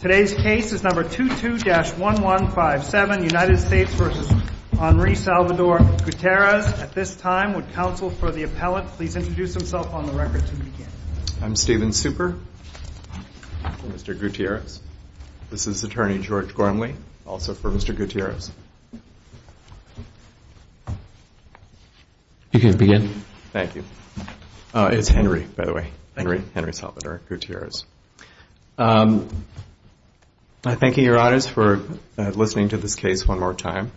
Today's case is number 22-1157, United States v. Henri Salvador Gutierrez. At this time, would counsel for the appellate please introduce himself on the record to begin? I'm Stephen Super, for Mr. Gutierrez. This is attorney George Gormley, also for Mr. Gutierrez. You can begin. Thank you. It's Henry, by the way. Henry Salvador Gutierrez. I thank you, your honors, for listening to this case one more time.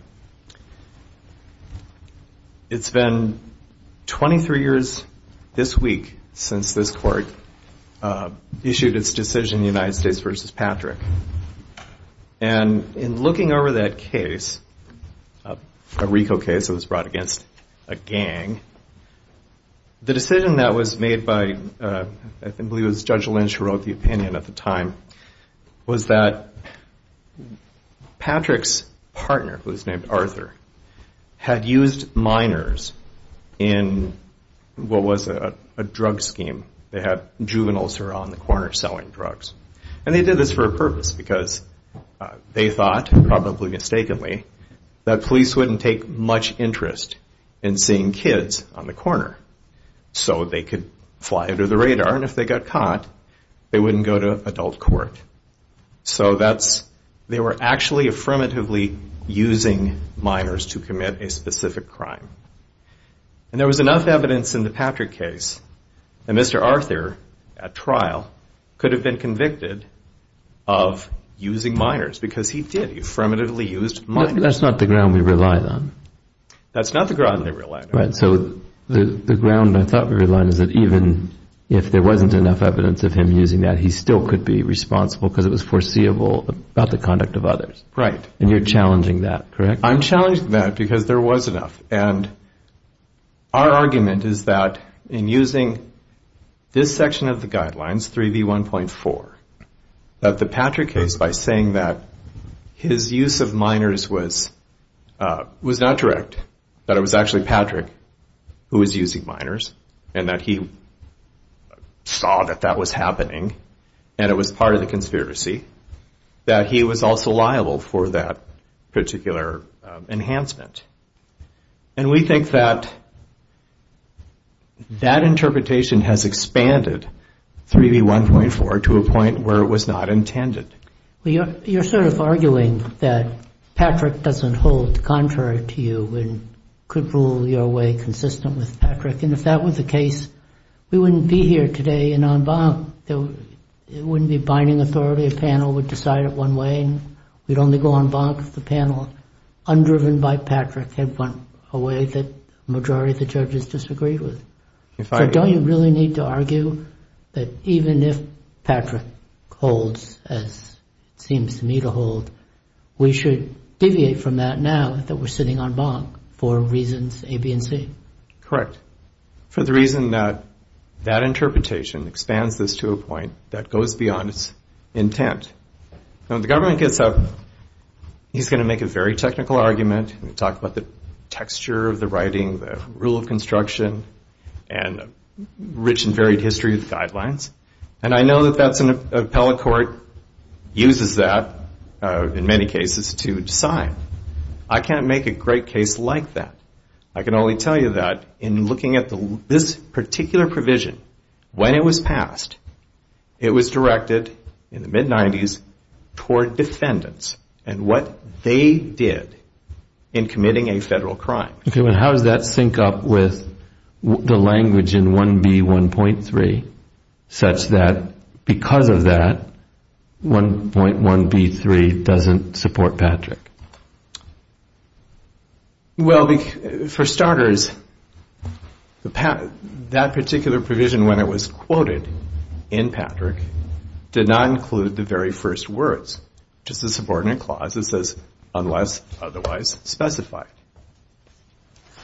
It's been 23 years this week since this court issued its decision, United States v. Patrick. And in looking over that case, a RICO case that was brought against a gang, the decision that was made by, I believe it was Judge Lynch who wrote the opinion at the time, was that Patrick's partner, who was named Arthur, had used minors in what was a drug scheme. They had juveniles around the corner selling drugs. And they did this for a purpose, because they thought, probably mistakenly, that police wouldn't take much interest in seeing kids on the corner, so they could fly under the radar, and if they got caught, they wouldn't go to adult court. So they were actually affirmatively using minors to commit a specific crime. And there was enough evidence in the Patrick case that Mr. Arthur, at trial, could have been convicted of using minors, because he did. That's not the ground we relied on. That's not the ground they relied on. So the ground I thought we relied on is that even if there wasn't enough evidence of him using that, he still could be responsible, because it was foreseeable about the conduct of others. Right. And you're challenging that, correct? I'm challenging that, because there was enough. And our argument is that, in using this section of the guidelines, 3B1.4, that the Patrick case, by saying that his use of minors was not direct, that it was actually Patrick who was using minors, and that he saw that that was happening, and it was part of the conspiracy, that he was also liable for that particular enhancement. And we think that that interpretation has expanded 3B1.4 to a point where it was not intended. You're sort of arguing that Patrick doesn't hold contrary to you and could rule your way consistent with Patrick. And if that was the case, we wouldn't be here today and en banc. It wouldn't be binding authority. A panel would decide it one way, and we'd only go en banc if the panel, undriven by Patrick, had gone away that the majority of the judges disagreed with. So don't you really need to argue that even if Patrick holds, as it seems to me to hold, we should deviate from that now that we're sitting en banc for reasons A, B, and C? Correct. For the reason that that interpretation expands this to a point that goes beyond its intent. When the government gets up, he's going to make a very technical argument. He's going to talk about the texture of the writing, the rule of construction, and the rich and varied history of the guidelines. And I know that an appellate court uses that, in many cases, to decide. I can't make a great case like that. I can only tell you that in looking at this particular provision, when it was passed, it was directed in the mid-'90s toward defendants and what they did in committing a federal crime. Okay. How does that sync up with the language in 1B1.3, such that because of that, 1.1B3 doesn't support Patrick? Well, for starters, that particular provision, when it was quoted in Patrick, did not include the very first words. It's just a subordinate clause that says, unless otherwise specified.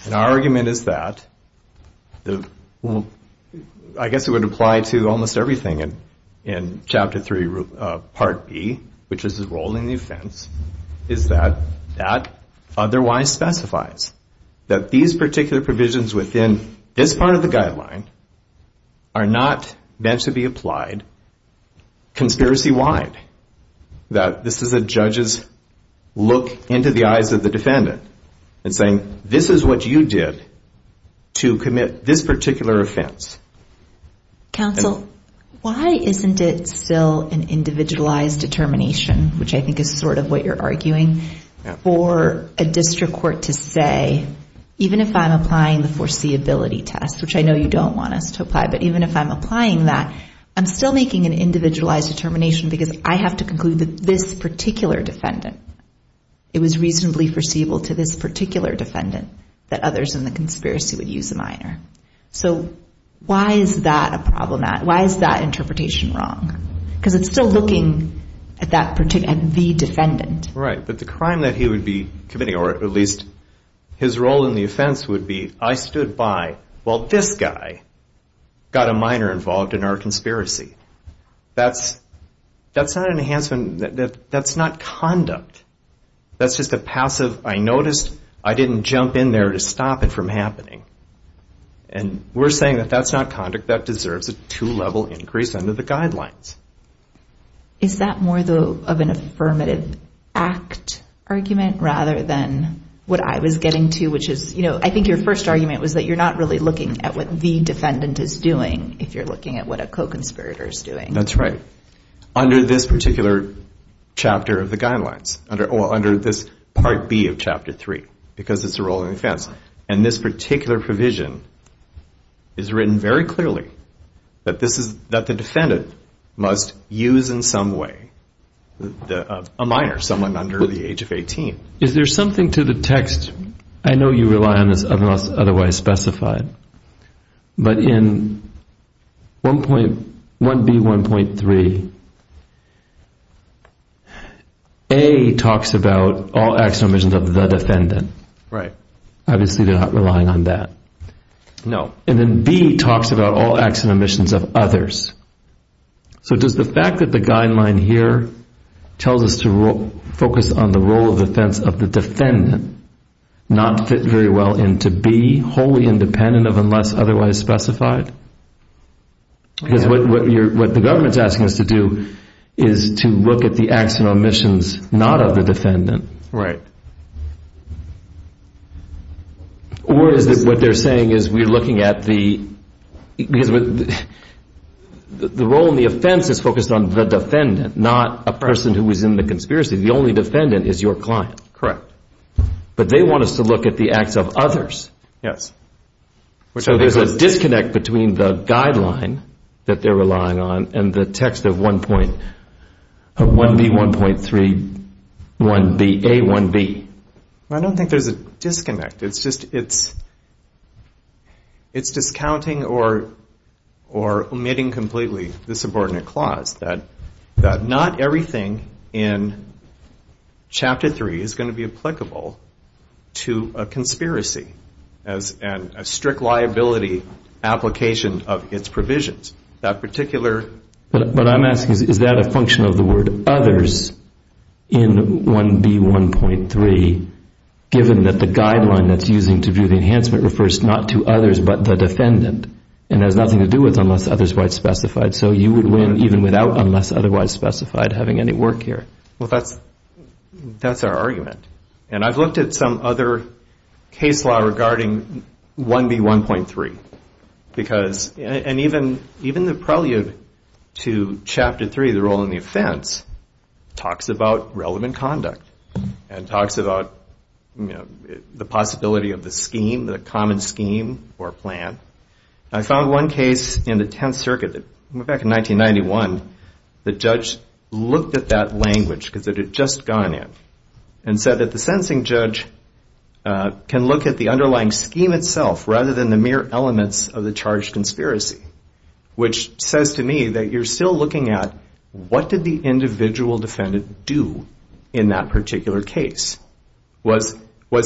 And our argument is that, I guess it would apply to almost everything in Chapter 3, Part B, which is the role in the offense, is that that otherwise specifies that these particular provisions within this part of the guideline are not meant to be applied conspiracy-wide. That this is a judge's look into the eyes of the defendant and saying, this is what you did to commit this particular offense. Counsel, why isn't it still an individualized determination, which I think is sort of what you're arguing, for a district court to say, even if I'm applying the foreseeability test, which I know you don't want us to apply, but even if I'm applying that, I'm still making an individualized determination because I have to conclude that this particular defendant, it was reasonably foreseeable to this particular defendant that others in the conspiracy would use a minor. So why is that a problem? Why is that interpretation wrong? Because it's still looking at the defendant. Right, but the crime that he would be committing, or at least his role in the offense would be, I stood by while this guy got a minor involved in our conspiracy. That's not an enhancement. That's not conduct. That's just a passive, I noticed, I didn't jump in there to stop it from happening. And we're saying that that's not conduct. That deserves a two-level increase under the guidelines. Is that more of an affirmative act argument rather than what I was getting to, which is, you know, I think your first argument was that you're not really looking at what the defendant is doing if you're looking at what a co-conspirator is doing. That's right. Under this particular chapter of the guidelines, or under this Part B of Chapter 3, because it's a role in the offense. And this particular provision is written very clearly, that the defendant must use in some way a minor, someone under the age of 18. Is there something to the text, I know you rely on this unless otherwise specified, but in 1B.1.3, A talks about all acts and omissions of the defendant. Right. Obviously they're not relying on that. No. And then B talks about all acts and omissions of others. So does the fact that the guideline here tells us to focus on the role of the offense of the defendant not fit very well into B, wholly independent of unless otherwise specified? Because what the government's asking us to do is to look at the acts and omissions not of the defendant. Right. Or is it what they're saying is we're looking at the, the role in the offense is focused on the defendant, not a person who is in the conspiracy. The only defendant is your client. Correct. But they want us to look at the acts of others. Yes. So there's a disconnect between the guideline that they're relying on and the text of 1B.1.3, 1B, A, 1B. I don't think there's a disconnect. It's just it's discounting or omitting completely the subordinate clause that not everything in Chapter 3 is going to be applicable to a conspiracy and a strict liability application of its provisions. That particular. But what I'm asking is, is that a function of the word others in 1B.1.3, given that the guideline that's using to view the enhancement refers not to others, but the defendant and has nothing to do with unless otherwise specified. So you would win even without unless otherwise specified having any work here. Well, that's that's our argument. And I've looked at some other case law regarding 1B.1.3, because even the prelude to Chapter 3, the role in the offense, talks about relevant conduct and talks about the possibility of the scheme, the common scheme or plan. I found one case in the Tenth Circuit that went back in 1991. The judge looked at that language because it had just gone in and said that the sentencing judge can look at the underlying scheme itself rather than the mere elements of the charge conspiracy, which says to me that you're still looking at what did the individual defendant do in that particular case? Was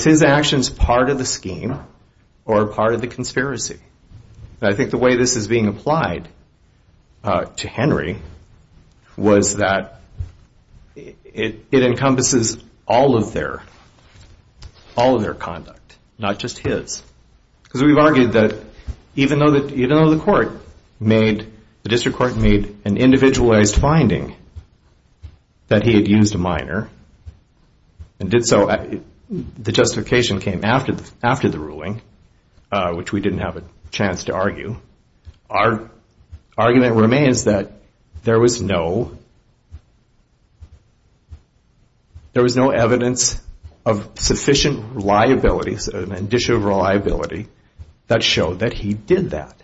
his actions part of the scheme or part of the conspiracy? And I think the way this is being applied to Henry was that it encompasses all of their conduct, not just his. Because we've argued that even though the court made, the district court made an individualized finding that he had used a minor and did so, the justification came after the ruling, our argument remains that there was no evidence of sufficient liabilities and additional reliability that showed that he did that.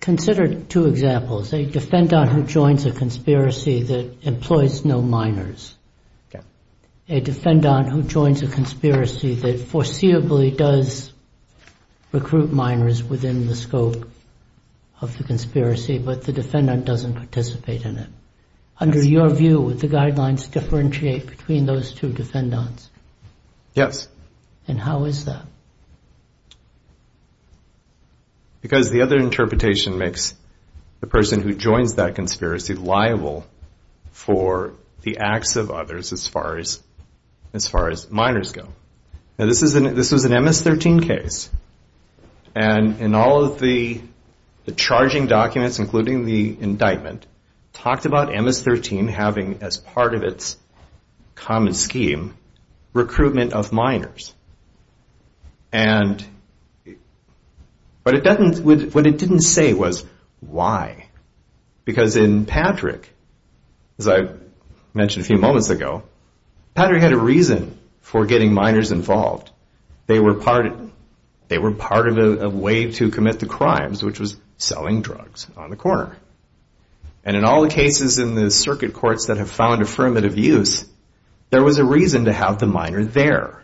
Consider two examples. A defendant who joins a conspiracy that employs no minors. A defendant who joins a conspiracy that foreseeably does recruit minors within the scope of the conspiracy, but the defendant doesn't participate in it. Under your view, would the guidelines differentiate between those two defendants? Yes. And how is that? Because the other interpretation makes the person who joins that conspiracy liable for the acts of others as far as minors go. Now, this was an MS-13 case. And in all of the charging documents, including the indictment, talked about MS-13 having as part of its common scheme recruitment of minors. And what it didn't say was why. Because in Patrick, as I mentioned a few moments ago, Patrick had a reason for getting minors involved. They were part of a way to commit the crimes, which was selling drugs on the corner. And in all the cases in the circuit courts that have found affirmative use, there was a reason to have the minor there.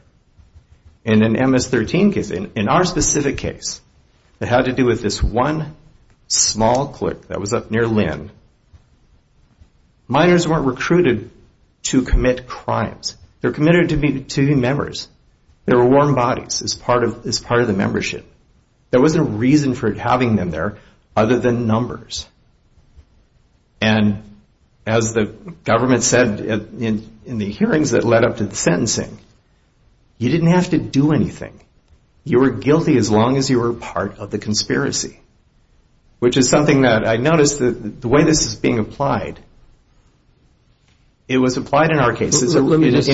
And in an MS-13 case, in our specific case, that had to do with this one small clique that was up near Lynn, minors weren't recruited to commit crimes. They were committed to be members. They were warm bodies as part of the membership. There wasn't a reason for having them there other than numbers. And as the government said in the hearings that led up to the sentencing, you didn't have to do anything. You were guilty as long as you were part of the conspiracy, which is something that I noticed the way this is being applied. It was applied in our case. It's in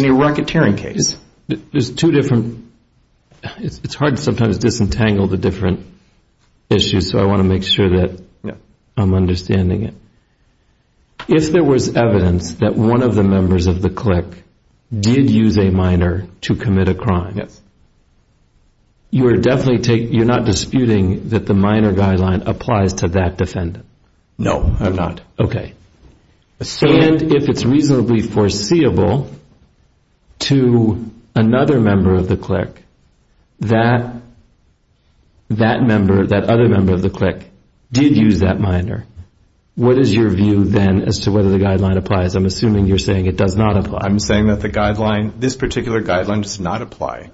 a racketeering case. There's two different – it's hard to sometimes disentangle the different issues, so I want to make sure that I'm understanding it. If there was evidence that one of the members of the clique did use a minor to commit a crime, you're not disputing that the minor guideline applies to that defendant? No, I'm not. Okay. And if it's reasonably foreseeable to another member of the clique that that other member of the clique did use that minor, what is your view then as to whether the guideline applies? I'm assuming you're saying it does not apply. I'm saying that the guideline – this particular guideline does not apply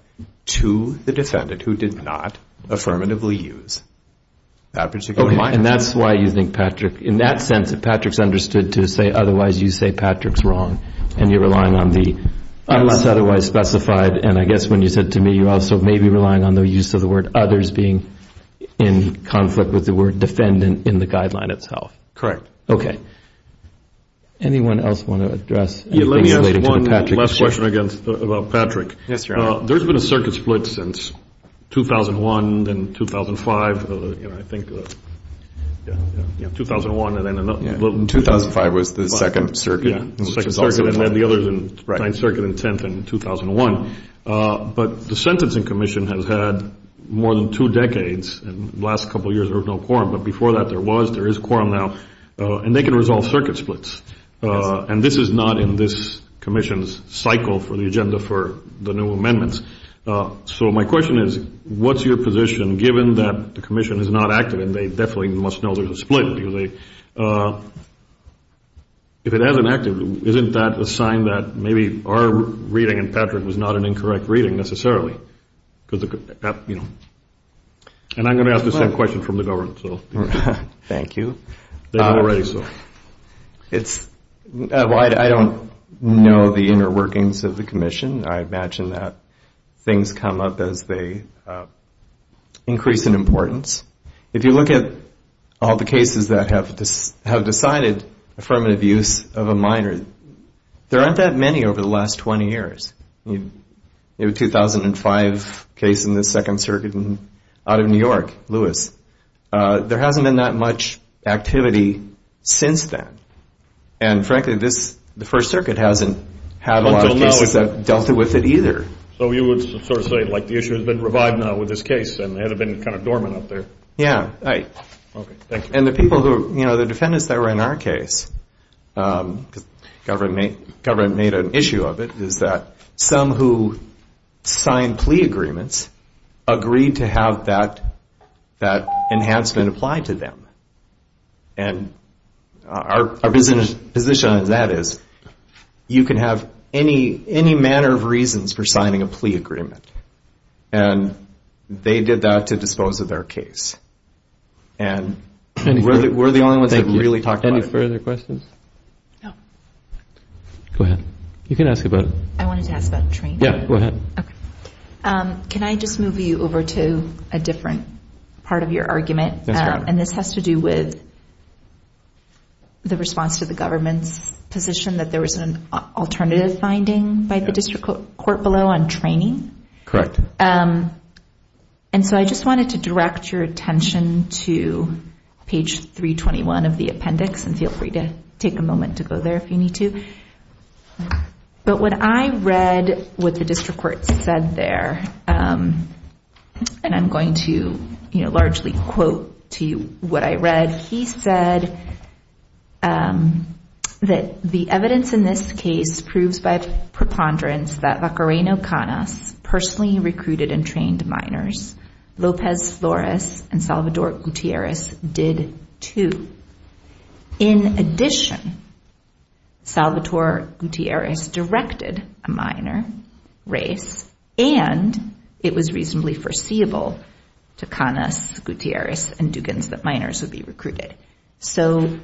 to the defendant who did not affirmatively use that particular minor. Okay, and that's why you think Patrick – in that sense, if Patrick's understood to say otherwise, you say Patrick's wrong, and you're relying on the unless otherwise specified. And I guess when you said to me, you also may be relying on the use of the word others being in conflict with the word defendant in the guideline itself. Correct. Okay. Anyone else want to address anything relating to the Patrick issue? Yeah, let me ask one last question about Patrick. Yes, Your Honor. There's been a circuit split since 2001, then 2005, you know, I think. Yeah, yeah. 2001 and then – Yeah, 2005 was the second circuit. Yeah, the second circuit, and then the others in the Ninth Circuit and 10th in 2001. But the Sentencing Commission has had more than two decades, and the last couple of years there was no quorum. But before that there was, there is quorum now. And they can resolve circuit splits. And this is not in this commission's cycle for the agenda for the new amendments. So my question is, what's your position, given that the commission is not active and they definitely must know there's a split? If it hasn't acted, isn't that a sign that maybe our reading in Patrick was not an incorrect reading necessarily? And I'm going to ask the same question from the government. Thank you. It's – well, I don't know the inner workings of the commission. I imagine that things come up as they increase in importance. If you look at all the cases that have decided affirmative use of a minor, there aren't that many over the last 20 years. You have a 2005 case in the Second Circuit out of New York, Lewis. There hasn't been that much activity since then. And, frankly, this, the First Circuit hasn't had a lot of cases that dealt with it either. So you would sort of say, like, the issue has been revived now with this case and it had been kind of dormant up there. Yeah. And the people who, you know, the defendants that were in our case, because the government made an issue of it, is that some who signed plea agreements agreed to have that enhancement applied to them. And our position on that is you can have any manner of reasons for signing a plea agreement. And they did that to dispose of their case. And we're the only ones that really talked about it. Go ahead. You can ask about it. I wanted to ask about training. Yeah, go ahead. Okay. Can I just move you over to a different part of your argument? And this has to do with the response to the government's position that there was an alternative finding by the district court below on training. Correct. And so I just wanted to direct your attention to page 321 of the appendix and feel free to take a moment to go there if you need to. But what I read what the district court said there, and I'm going to, you know, largely quote to you what I read. He said that the evidence in this case proves by preponderance that Vacareno Canas personally recruited and trained minors. Lopez Flores and Salvatore Gutierrez did too. In addition, Salvatore Gutierrez directed a minor race, and it was reasonably foreseeable to Canas, Gutierrez, and Dugans that minors would be recruited. So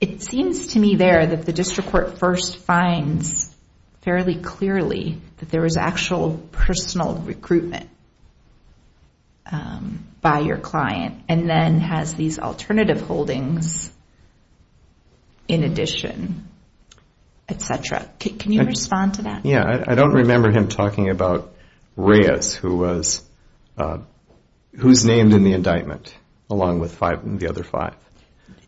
it seems to me there that the district court first finds fairly clearly that there was actual personal recruitment by your client and then has these alternative holdings in addition, et cetera. Can you respond to that? Yeah, I don't remember him talking about Reyes, who was named in the indictment, along with the other five.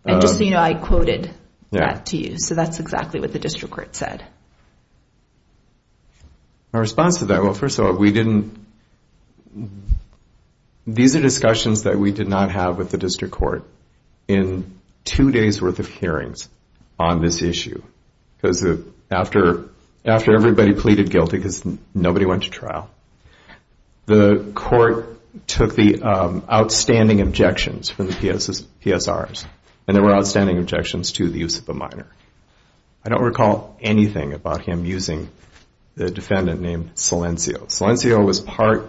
And just so you know, I quoted that to you. So that's exactly what the district court said. My response to that, well, first of all, these are discussions that we did not have with the district court in two days' worth of hearings on this issue, because after everybody pleaded guilty because nobody went to trial, the court took the outstanding objections from the PSRs, and there were outstanding objections to the use of a minor. I don't recall anything about him using the defendant named Silencio. Silencio was part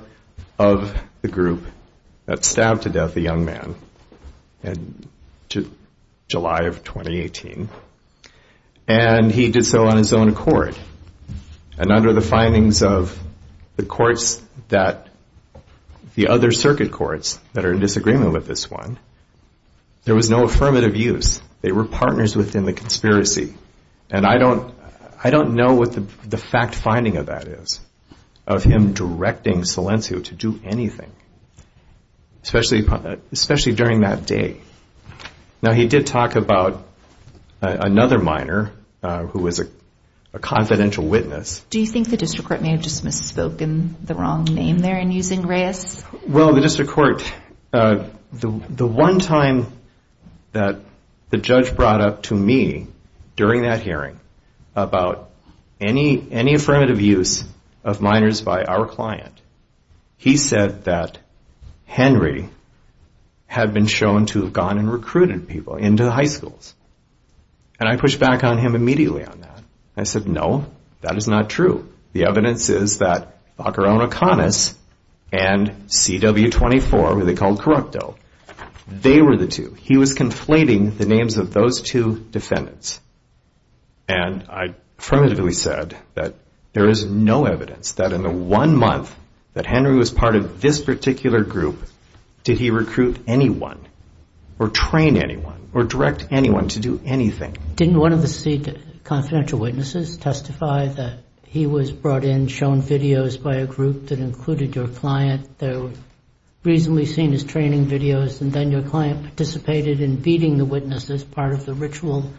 of the group that stabbed to death a young man in July of 2018, and he did so on his own accord. And under the findings of the courts that the other circuit courts that are in disagreement with this one, there was no affirmative use. They were partners within the conspiracy. And I don't know what the fact finding of that is, of him directing Silencio to do anything, especially during that day. Now, he did talk about another minor who was a confidential witness. Do you think the district court may have just misspoken the wrong name there in using Reyes? Well, the district court, the one time that the judge brought up to me during that hearing about any affirmative use of minors by our client, he said that Henry had been shown to have gone and recruited people into the high schools. And I pushed back on him immediately on that. I said, no, that is not true. The evidence is that Baccarone-O'Connors and CW24, who they called corrupto, they were the two. He was conflating the names of those two defendants. And I affirmatively said that there is no evidence that in the one month that Henry was part of this particular group, did he recruit anyone or train anyone or direct anyone to do anything. Didn't one of the confidential witnesses testify that he was brought in, shown videos by a group that included your client, they were reasonably seen as training videos, and then your client participated in beating the witnesses as part of the ritual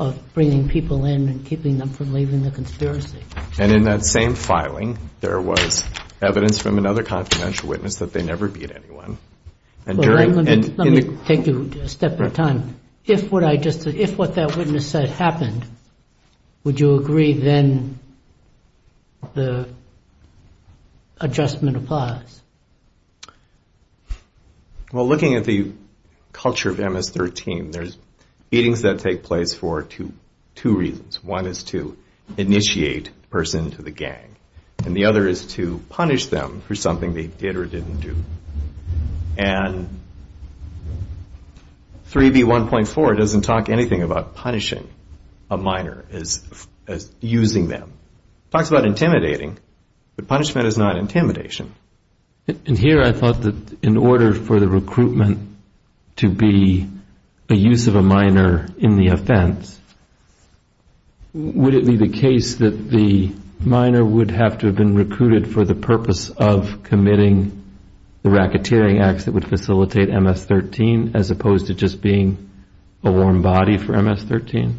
of bringing people in and keeping them from leaving the conspiracy? And in that same filing, there was evidence from another confidential witness that they never beat anyone. Let me take you a step at a time. If what that witness said happened, would you agree then the adjustment applies? Well, looking at the culture of MS-13, there's beatings that take place for two reasons. One is to initiate a person into the gang, and the other is to punish them for something they did or didn't do. And 3B1.4 doesn't talk anything about punishing a minor as using them. It talks about intimidating, but punishment is not intimidation. And here I thought that in order for the recruitment to be a use of a minor in the offense, would it be the case that the minor would have to have been recruited for the purpose of committing the racketeering acts that would facilitate MS-13, as opposed to just being a warm body for MS-13?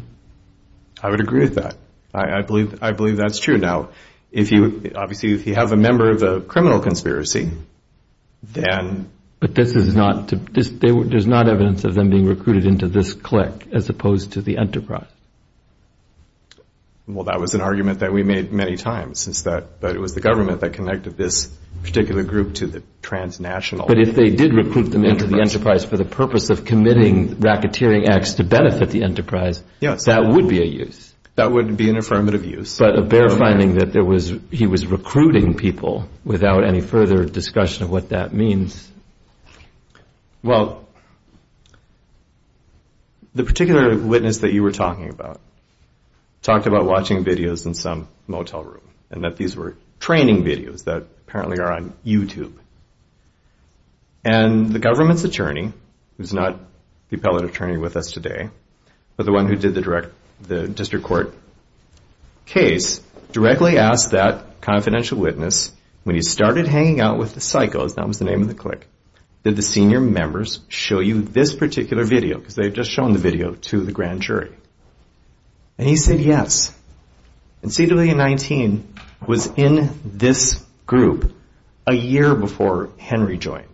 I would agree with that. I believe that's true. Now, obviously, if you have a member of a criminal conspiracy, then... But there's not evidence of them being recruited into this clique, as opposed to the enterprise. Well, that was an argument that we made many times. But it was the government that connected this particular group to the transnational. But if they did recruit them into the enterprise for the purpose of committing racketeering acts to benefit the enterprise, that would be a use. That would be an affirmative use. But a bare finding that he was recruiting people without any further discussion of what that means. Well, the particular witness that you were talking about talked about watching videos in some motel room and that these were training videos that apparently are on YouTube. And the government's attorney, who's not the appellate attorney with us today, but the one who did the district court case, directly asked that confidential witness, when he started hanging out with the psychos, that was the name of the clique, did the senior members show you this particular video? Because they had just shown the video to the grand jury. And he said yes. And CW-19 was in this group a year before Henry joined.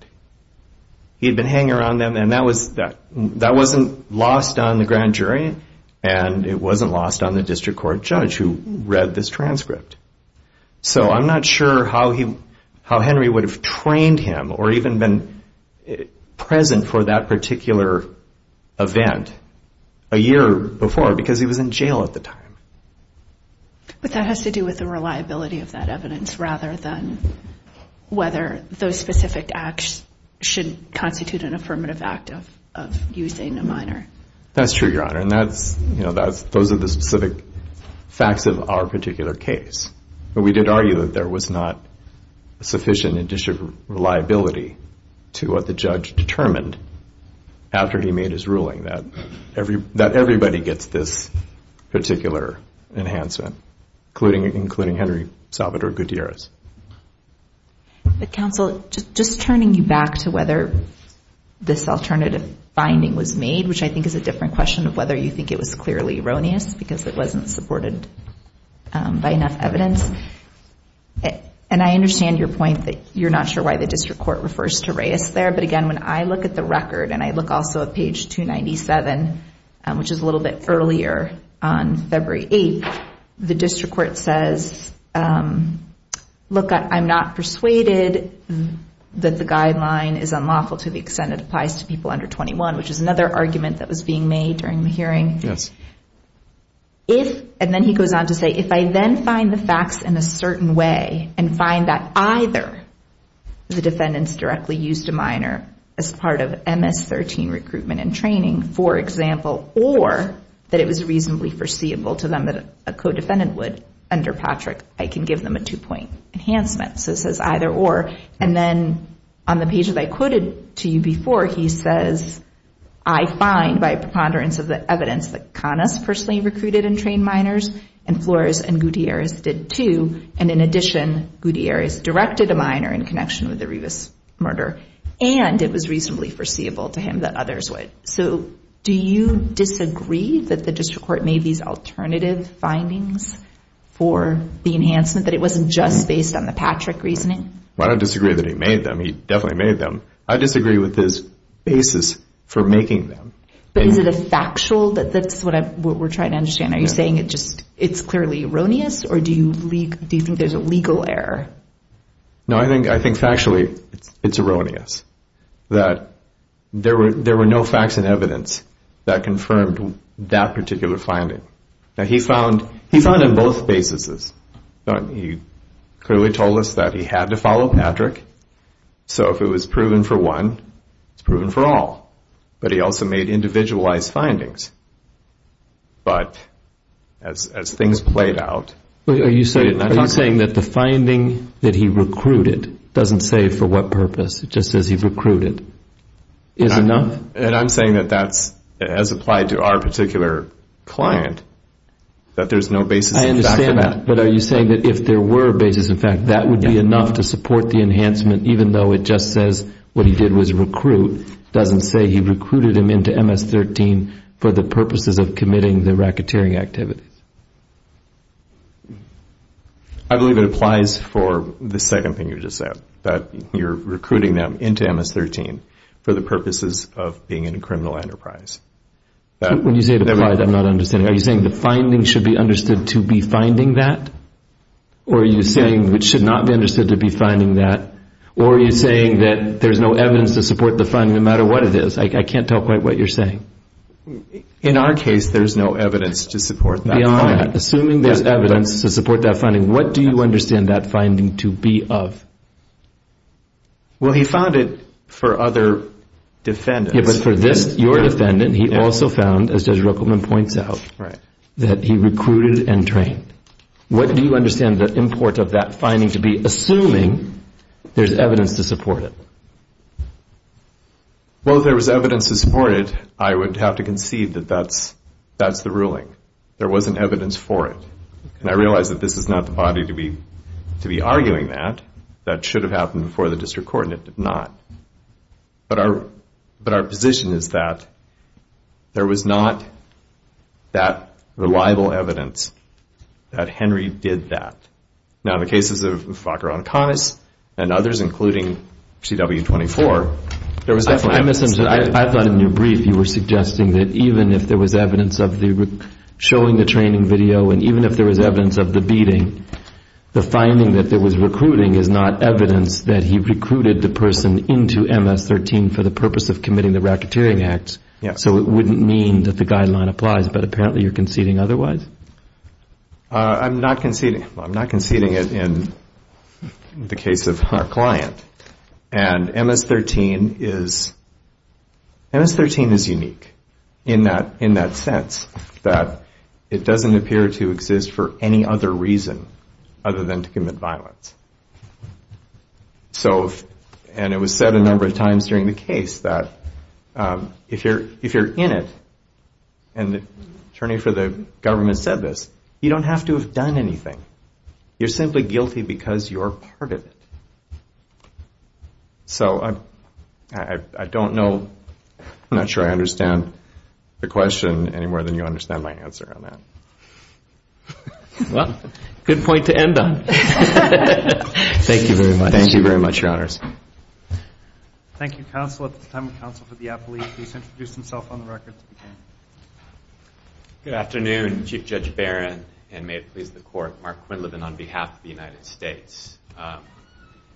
He had been hanging around them and that wasn't lost on the grand jury and it wasn't lost on the district court judge who read this transcript. So I'm not sure how Henry would have trained him or even been present for that particular event a year before because he was in jail at the time. But that has to do with the reliability of that evidence rather than whether those specific acts should constitute an affirmative act of using a minor. That's true, Your Honor. And those are the specific facts of our particular case. But we did argue that there was not sufficient additional reliability to what the judge determined after he made his ruling that everybody gets this particular enhancement, including Henry Salvatore Gutierrez. Counsel, just turning you back to whether this alternative finding was made, which I think is a different question of whether you think it was clearly erroneous because it wasn't supported by enough evidence. And I understand your point that you're not sure why the district court refers to Reyes there. But again, when I look at the record and I look also at page 297, which is a little bit earlier on February 8th, the district court says, look, I'm not persuaded that the guideline is unlawful to the extent it applies to people under 21, which is another argument that was being made during the hearing. Yes. And then he goes on to say, if I then find the facts in a certain way and find that either the defendants directly used a minor as part of MS-13 recruitment and training, for example, or that it was reasonably foreseeable to them that a co-defendant would, under Patrick, I can give them a two-point enhancement. So it says either or. And then on the page that I quoted to you before, he says, I find by preponderance of the evidence that Canas personally recruited and trained minors and Flores and Gutierrez did too, and in addition, Gutierrez directed a minor in connection with the Rivas murder, and it was reasonably foreseeable to him that others would. So do you disagree that the district court made these alternative findings for the enhancement, that it wasn't just based on the Patrick reasoning? I don't disagree that he made them. He definitely made them. I disagree with his basis for making them. But is it factual? That's what we're trying to understand. Are you saying it's clearly erroneous, or do you think there's a legal error? No, I think factually it's erroneous. There were no facts and evidence that confirmed that particular finding. He found on both bases. He clearly told us that he had to follow Patrick. So if it was proven for one, it's proven for all. But he also made individualized findings. But as things played out. Are you saying that the finding that he recruited doesn't say for what purpose, it just says he recruited, is enough? And I'm saying that that's as applied to our particular client, that there's no basis in fact of that. I understand that. But are you saying that if there were a basis in fact, that would be enough to support the enhancement, even though it just says what he did was recruit, doesn't say he recruited him into MS-13 for the purposes of committing the racketeering activities? I believe it applies for the second thing you just said, that you're recruiting them into MS-13 for the purposes of being in a criminal enterprise. When you say it applies, I'm not understanding. Are you saying the finding should be understood to be finding that? Or are you saying it should not be understood to be finding that? Or are you saying that there's no evidence to support the finding, no matter what it is? I can't tell quite what you're saying. In our case, there's no evidence to support that finding. Beyond that, assuming there's evidence to support that finding, what do you understand that finding to be of? Well, he found it for other defendants. But for this, your defendant, he also found, as Judge Ruckelman points out, that he recruited and trained. What do you understand the import of that finding to be, assuming there's evidence to support it? Well, if there was evidence to support it, I would have to conceive that that's the ruling. There wasn't evidence for it. And I realize that this is not the body to be arguing that. That should have happened before the district court, and it did not. But our position is that there was not that reliable evidence that Henry did that. Now, in the cases of Falker-Anconis and others, including CW24, there was definitely evidence. I thought in your brief you were suggesting that even if there was evidence of showing the training video and even if there was evidence of the beating, the finding that there was recruiting is not evidence that he recruited the person into MS-13 for the purpose of committing the racketeering acts. So it wouldn't mean that the guideline applies. But apparently you're conceding otherwise. I'm not conceding it in the case of our client. And MS-13 is unique in that sense that it doesn't appear to exist for any other reason other than to commit violence. And it was said a number of times during the case that if you're in it, and the attorney for the government said this, you don't have to have done anything. You're simply guilty because you're part of it. So I don't know. I'm not sure I understand the question any more than you understand my answer on that. Well, good point to end on. Thank you very much. Thank you very much, Your Honors. Thank you, counsel. At this time, the counsel for the appellee, please introduce himself on the record. Good afternoon, Chief Judge Barron, and may it please the Court, Mark Quinlivan on behalf of the United States. I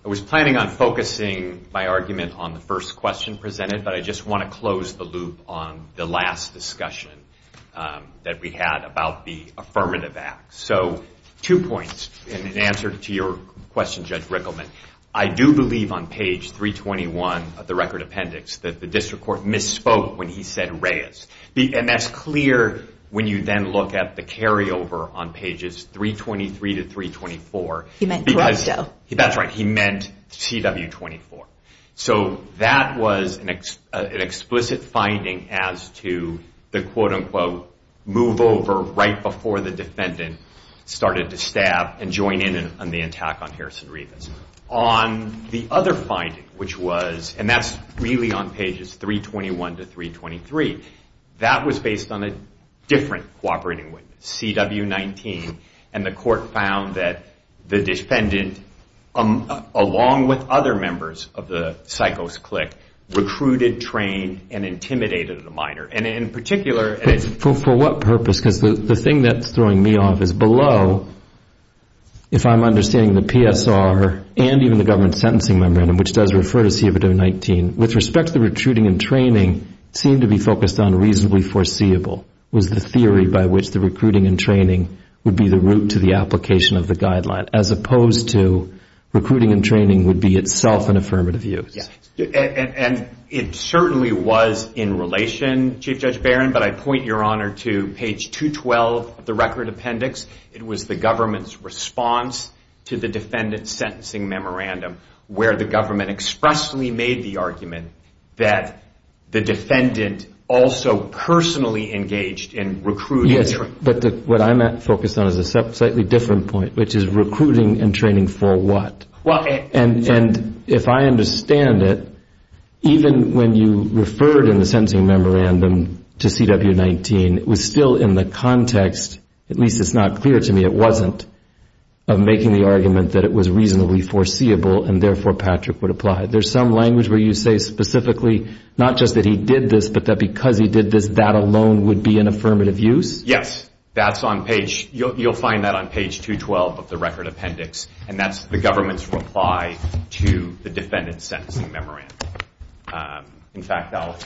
was planning on focusing my argument on the first question presented, but I just want to close the loop on the last discussion that we had about the affirmative act. So two points in answer to your question, Judge Rickleman. I do believe on page 321 of the record appendix that the district court misspoke when he said Reyes. And that's clear when you then look at the carryover on pages 323 to 324. He meant Corrupto. That's right. He meant CW24. So that was an explicit finding as to the, quote, unquote, move over right before the defendant started to stab and join in on the attack on Harrison Rivas. On the other finding, which was, and that's really on pages 321 to 323, that was based on a different cooperating witness, CW19, and the court found that the defendant, along with other members of the psychos clique, recruited, trained, and intimidated a minor. And in particular ‑‑ For what purpose? Because the thing that's throwing me off is below, if I'm understanding the PSR and even the government sentencing memorandum, which does refer to CW19, with respect to the recruiting and training seemed to be focused on reasonably foreseeable was the theory by which the recruiting and training would be the route to the application of the guideline as opposed to recruiting and training would be itself an affirmative use. And it certainly was in relation, Chief Judge Barron, but I point your honor to page 212 of the record appendix. It was the government's response to the defendant's sentencing memorandum personally engaged in recruiting and training. Yes, but what I'm focused on is a slightly different point, which is recruiting and training for what? And if I understand it, even when you referred in the sentencing memorandum to CW19, it was still in the context, at least it's not clear to me it wasn't, of making the argument that it was reasonably foreseeable and therefore Patrick would apply. There's some language where you say specifically not just that he did this, but that because he did this, that alone would be an affirmative use? Yes, that's on page, you'll find that on page 212 of the record appendix, and that's the government's reply to the defendant's sentencing memorandum. In fact, I'll...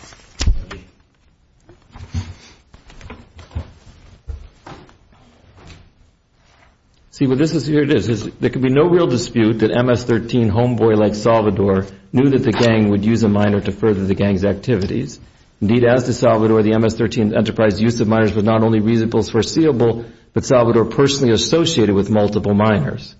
See, here it is, there can be no real dispute that MS-13 homeboy like Salvador knew that the gang would use a minor to further the gang's activities. Indeed, as to Salvador, the MS-13 enterprise use of minors was not only reasonably foreseeable, but Salvador personally associated with multiple minors.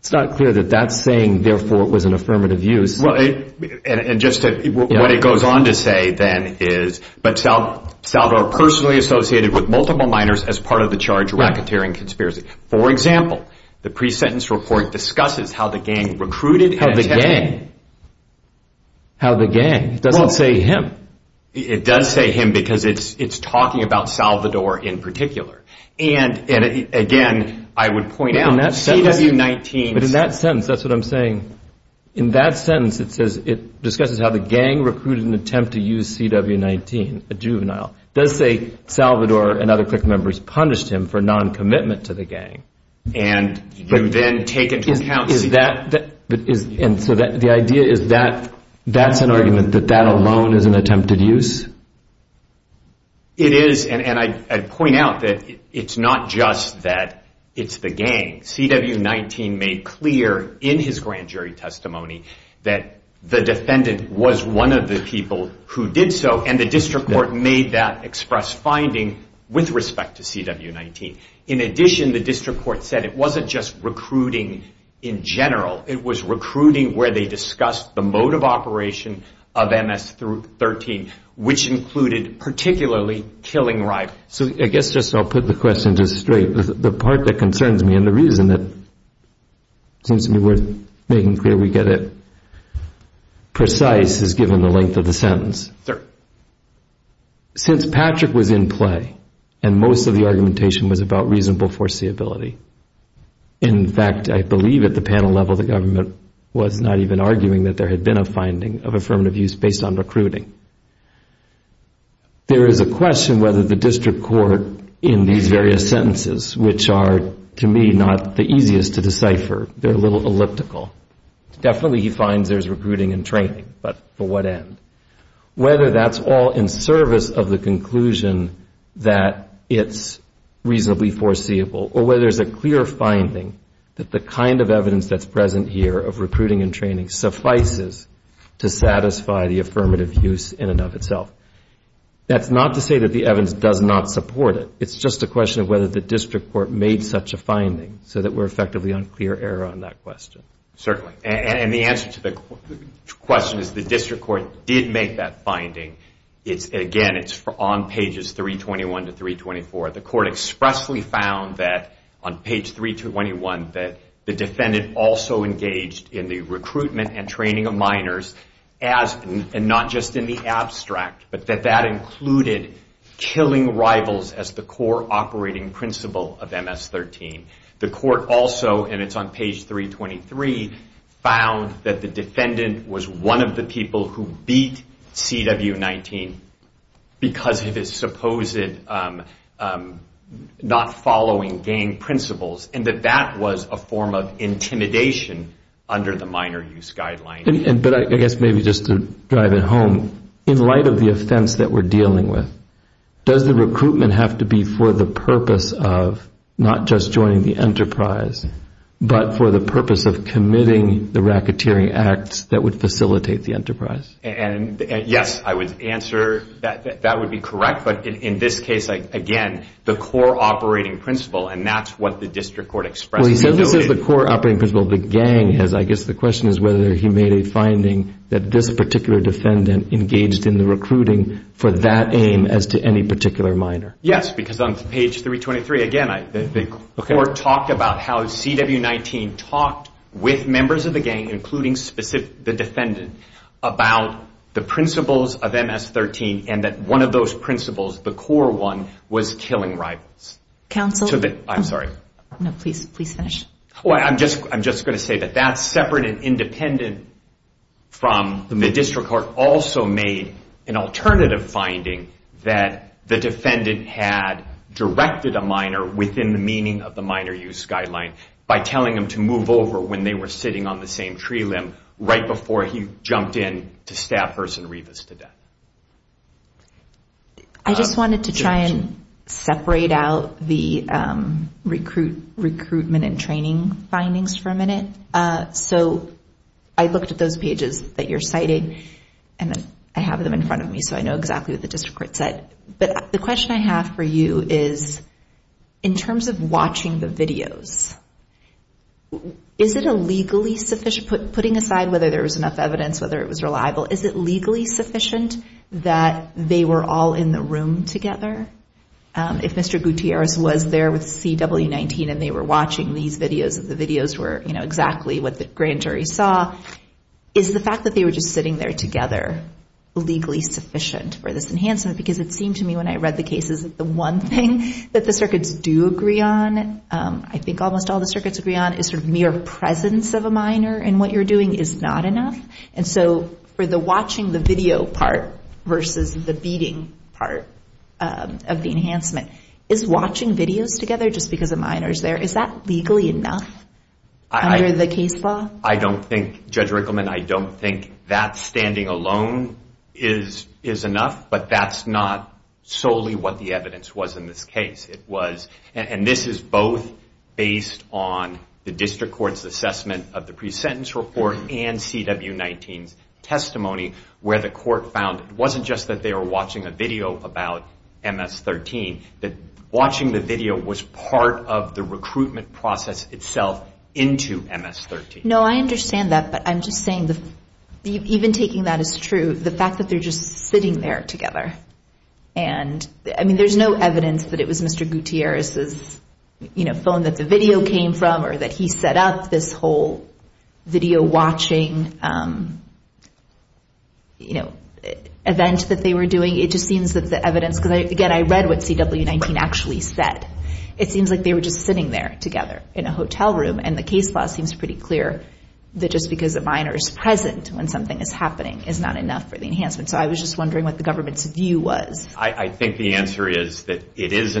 It's not clear that that's saying therefore it was an affirmative use. Well, and just what it goes on to say then is, but Salvador personally associated with multiple minors as part of the charge racketeering conspiracy. For example, the pre-sentence report discusses how the gang recruited... How the gang? How the gang? It doesn't say him. It does say him because it's talking about Salvador in particular. And again, I would point out CW19... In the pre-sentence it says, it discusses how the gang recruited an attempt to use CW19, a juvenile. It does say Salvador and other clique members punished him for non-commitment to the gang. And you then take into account... And so the idea is that that's an argument that that alone is an attempted use? It is, and I'd point out that it's not just that it's the gang. CW19 made clear in his grand jury testimony that the defendant was one of the people who did so, and the district court made that express finding with respect to CW19. In addition, the district court said it wasn't just recruiting in general. It was recruiting where they discussed the mode of operation of MS-13, which included particularly killing rivals. So I guess I'll put the question just straight. The part that concerns me and the reason that seems to be worth making clear we get it precise is given the length of the sentence. Since Patrick was in play and most of the argumentation was about reasonable foreseeability, in fact I believe at the panel level the government was not even arguing that there had been a finding of affirmative use based on recruiting. There is a question whether the district court in these various sentences, which are to me not the easiest to decipher, they're a little elliptical. Definitely he finds there's recruiting and training, but for what end? Whether that's all in service of the conclusion that it's reasonably foreseeable, or whether there's a clear finding that the kind of evidence that's present here of recruiting and training suffices to satisfy the affirmative use in and of itself. That's not to say that the evidence does not support it. It's just a question of whether the district court made such a finding so that we're effectively on clear air on that question. Certainly, and the answer to the question is the district court did make that finding. Again, it's on pages 321 to 324. The court expressly found that on page 321 that the defendant also engaged in the recruitment and training of minors, and not just in the abstract, but that that included killing rivals as the core operating principle of MS-13. The court also, and it's on page 323, found that the defendant was one of the people who beat CW-19 because of his supposed not following gang principles, and that that was a form of intimidation under the minor use guideline. But I guess maybe just to drive it home, in light of the offense that we're dealing with, does the recruitment have to be for the purpose of not just joining the enterprise, but for the purpose of committing the racketeering acts that would facilitate the enterprise? Yes, I would answer that that would be correct, but in this case, again, the core operating principle, and that's what the district court expressed. Well, he says this is the core operating principle of the gang. I guess the question is whether he made a finding that this particular defendant engaged in the recruiting for that aim as to any particular minor. Yes, because on page 323, again, the court talked about how CW-19 talked with members of the gang, including the defendant, about the principles of MS-13, and that one of those principles, the core one, was killing rivals. Counsel? I'm sorry. No, please finish. I'm just going to say that that's separate and independent from the district court. The district court also made an alternative finding that the defendant had directed a minor within the meaning of the minor use guideline by telling them to move over when they were sitting on the same tree limb right before he jumped in to stab Herson Rivas to death. I just wanted to try and separate out the recruitment and training findings for a minute. So I looked at those pages that you're citing, and I have them in front of me, so I know exactly what the district court said. But the question I have for you is in terms of watching the videos, is it legally sufficient, putting aside whether there was enough evidence, whether it was reliable, is it legally sufficient that they were all in the room together? If Mr. Gutierrez was there with CW19 and they were watching these videos and the videos were exactly what the grand jury saw, is the fact that they were just sitting there together legally sufficient for this enhancement? Because it seemed to me when I read the cases that the one thing that the circuits do agree on, I think almost all the circuits agree on, is sort of mere presence of a minor in what you're doing is not enough. And so for the watching the video part versus the beating part of the enhancement, is watching videos together just because a minor is there, is that legally enough under the case law? I don't think, Judge Rickleman, I don't think that standing alone is enough, but that's not solely what the evidence was in this case. And this is both based on the district court's assessment of the pre-sentence report and CW19's testimony where the court found it wasn't just that they were watching a video about MS-13, that watching the video was part of the recruitment process itself into MS-13. No, I understand that, but I'm just saying even taking that as true, the fact that they're just sitting there together. I mean, there's no evidence that it was Mr. Gutierrez's phone that the video came from or that he set up this whole video watching event that they were doing. It just seems that the evidence, because, again, I read what CW19 actually said. It seems like they were just sitting there together in a hotel room, and the case law seems pretty clear that just because a minor is present when something is happening is not enough for the enhancement. So I was just wondering what the government's view was. I think the answer is that it is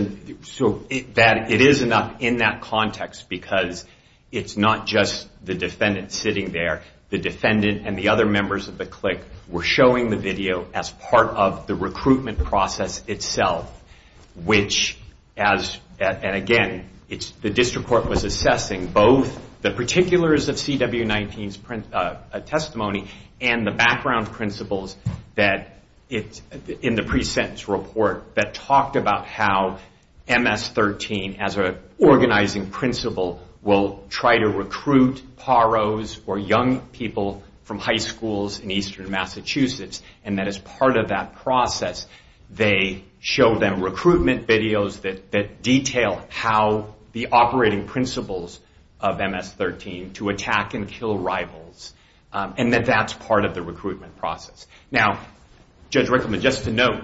enough in that context because it's not just the defendant sitting there. The defendant and the other members of the clique were showing the video as part of the recruitment process itself, which, and again, the district court was assessing both the particulars of CW19's testimony and the background principles in the pre-sentence report that talked about how MS-13, as an organizing principle, will try to recruit PAROs or young people from high schools in eastern Massachusetts, and that as part of that process they show them recruitment videos that detail how the operating principles of MS-13 to attack and kill rivals and that that's part of the recruitment process. Now, Judge Rickleman, just to note,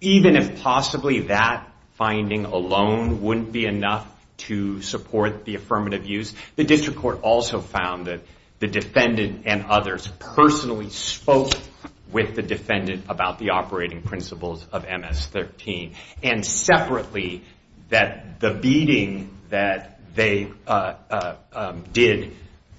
even if possibly that finding alone wouldn't be enough to support the affirmative use, the district court also found that the defendant and others personally spoke with the defendant about the operating principles of MS-13 and separately that the beating that they did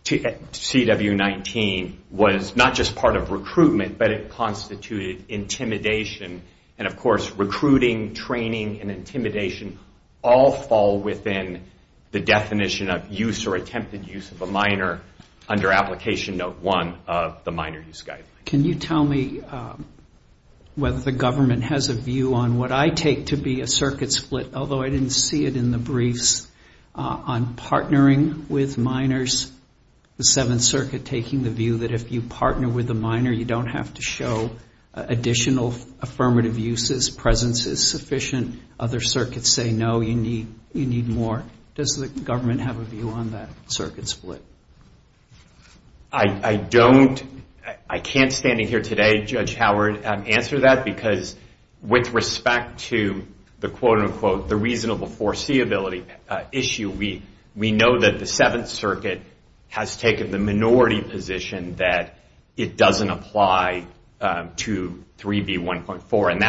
at CW19 was not just part of recruitment, but it constituted intimidation. And, of course, recruiting, training, and intimidation all fall within the definition of use or attempted use of a minor under Application Note 1 of the Minor Use Guideline. Can you tell me whether the government has a view on what I take to be a circuit split, although I didn't see it in the briefs, on partnering with minors, the Seventh Circuit taking the view that if you partner with a minor you don't have to show additional affirmative uses, presence is sufficient, other circuits say no, you need more. Does the government have a view on that circuit split? I don't, I can't standing here today, Judge Howard, answer that because with respect to the quote-unquote the reasonable foreseeability issue, we know that the Seventh Circuit has taken the minority position that it doesn't apply to 3B1.4, and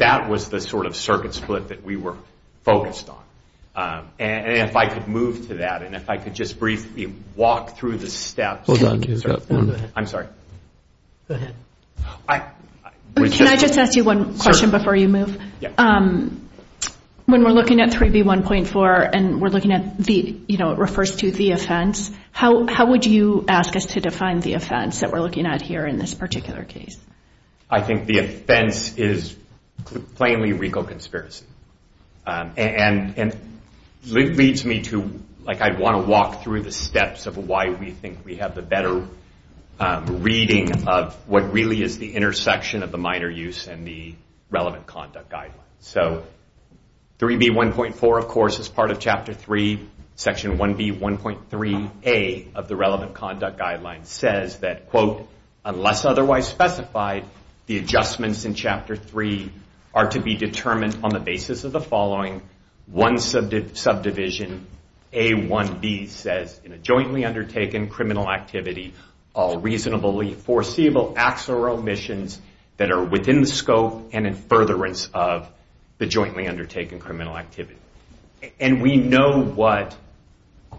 that was the sort of circuit split that we were focused on. And if I could move to that, and if I could just briefly walk through the steps. I'm sorry. Go ahead. Can I just ask you one question before you move? When we're looking at 3B1.4 and we're looking at the, you know, it refers to the offense, how would you ask us to define the offense that we're looking at here in this particular case? I think the offense is plainly legal conspiracy. And it leads me to, like, I want to walk through the steps of why we think we have the better reading of what really is the intersection of the minor use and the relevant conduct guidelines. So 3B1.4, of course, is part of Chapter 3. Section 1B1.3a of the relevant conduct guidelines says that, quote, unless otherwise specified, the adjustments in Chapter 3 are to be determined on the basis of the following. One subdivision, A1B, says, in a jointly undertaken criminal activity, all reasonably foreseeable acts or omissions that are within the scope and in furtherance of the jointly undertaken criminal activity. And we know what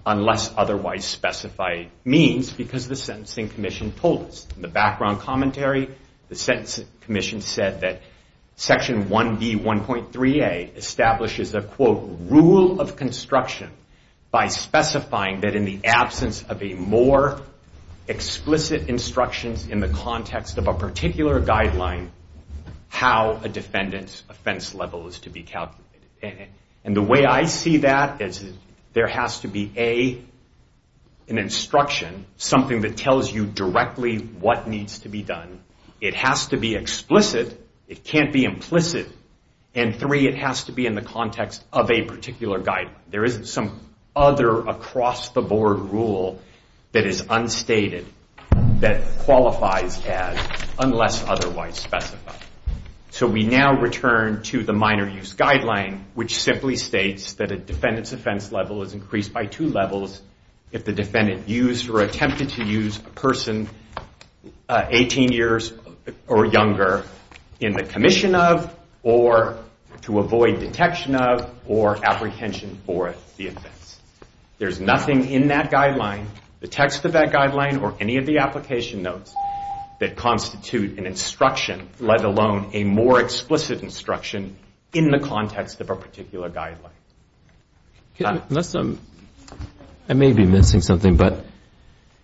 unless otherwise specified means because the Sentencing Commission told us. In the background commentary, the Sentencing Commission said that Section 1B1.3a establishes a, quote, rule of construction by specifying that in the absence of a more explicit instructions in the context of a particular guideline how a defendant's offense level is to be calculated. And the way I see that is there has to be, A, an instruction, something that tells you directly what needs to be done. It has to be explicit. It can't be implicit. And, three, it has to be in the context of a particular guideline. There isn't some other across-the-board rule that is unstated that qualifies as unless otherwise specified. So we now return to the minor use guideline, which simply states that a defendant's offense level is increased by two levels if the defendant used or attempted to use a person 18 years or younger in the commission of, or to avoid detection of, or apprehension for the offense. There's nothing in that guideline, the text of that guideline, or any of the application notes that constitute an instruction, let alone a more explicit instruction in the context of a particular guideline. Unless I'm, I may be missing something, but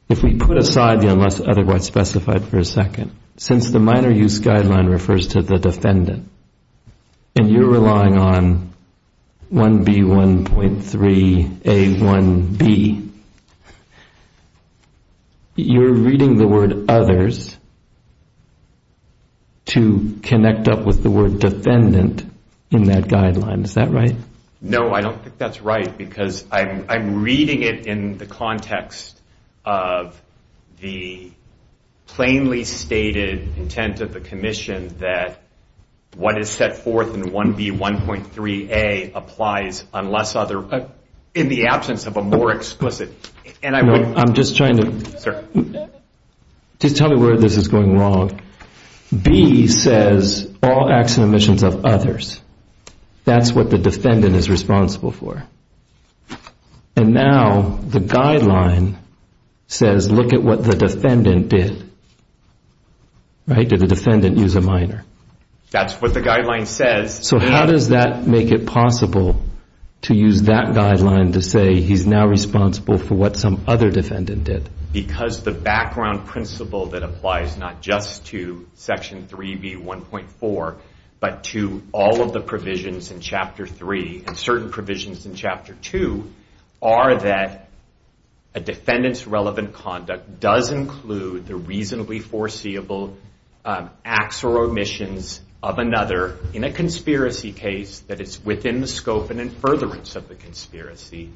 if we put aside the unless otherwise specified for a second, since the minor use guideline refers to the defendant, and you're relying on 1B1.3A1B, you're reading the word others to connect up with the word defendant in that guideline. Is that right? No, I don't think that's right, because I'm reading it in the context of the plainly stated intent of the commission that what is set forth in 1B1.3A applies unless other, in the absence of a more explicit. I'm just trying to, just tell me where this is going wrong. B says all acts and omissions of others. That's what the defendant is responsible for. And now the guideline says look at what the defendant did. Did the defendant use a minor? That's what the guideline says. So how does that make it possible to use that guideline to say he's now responsible for what some other defendant did? Because the background principle that applies not just to Section 3B1.4, but to all of the provisions in Chapter 3 and certain provisions in Chapter 2, are that a defendant's relevant conduct does include the reasonably foreseeable acts or omissions of another in a conspiracy case that is within the scope and in furtherance of the conspiracy.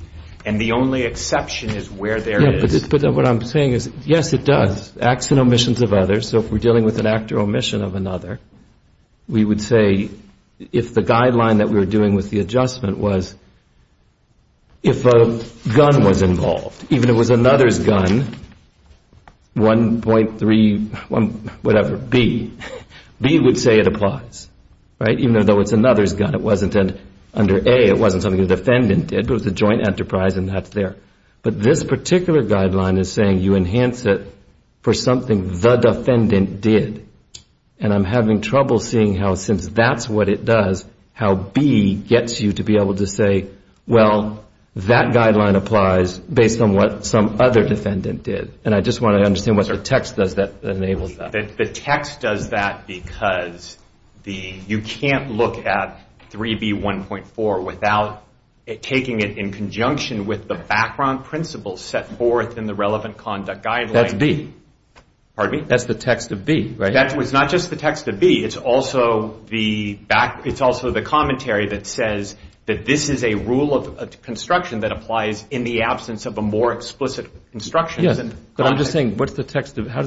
And the only exception is where there is. But what I'm saying is yes, it does. Acts and omissions of others. So if we're dealing with an act or omission of another, we would say if the guideline that we were doing with the adjustment was if a gun was involved, even if it was another's gun, 1.3, whatever, B, B would say it applies. Right? Even though it's another's gun. It wasn't under A. It wasn't something the defendant did, but it was a joint enterprise and that's there. But this particular guideline is saying you enhance it for something the defendant did. And I'm having trouble seeing how since that's what it does, how B gets you to be able to say, well, that guideline applies based on what some other defendant did. And I just want to understand what the text does that enables that. The text does that because you can't look at 3B1.4 without taking it in conjunction with the background principles set forth in the relevant conduct guideline. That's B. Pardon me? That's the text of B, right? It's not just the text of B. It's also the commentary that says that this is a rule of construction that applies in the absence of a more explicit instruction. But I'm just saying, how does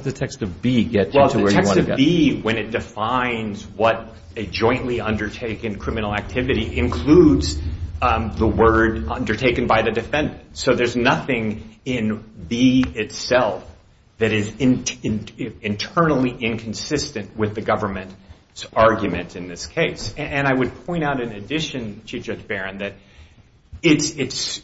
the text of B get you to where you want to go? Well, the text of B, when it defines what a jointly undertaken criminal activity, includes the word undertaken by the defendant. So there's nothing in B itself that is internally inconsistent with the government's argument in this case. And I would point out in addition to Judge Barron that it's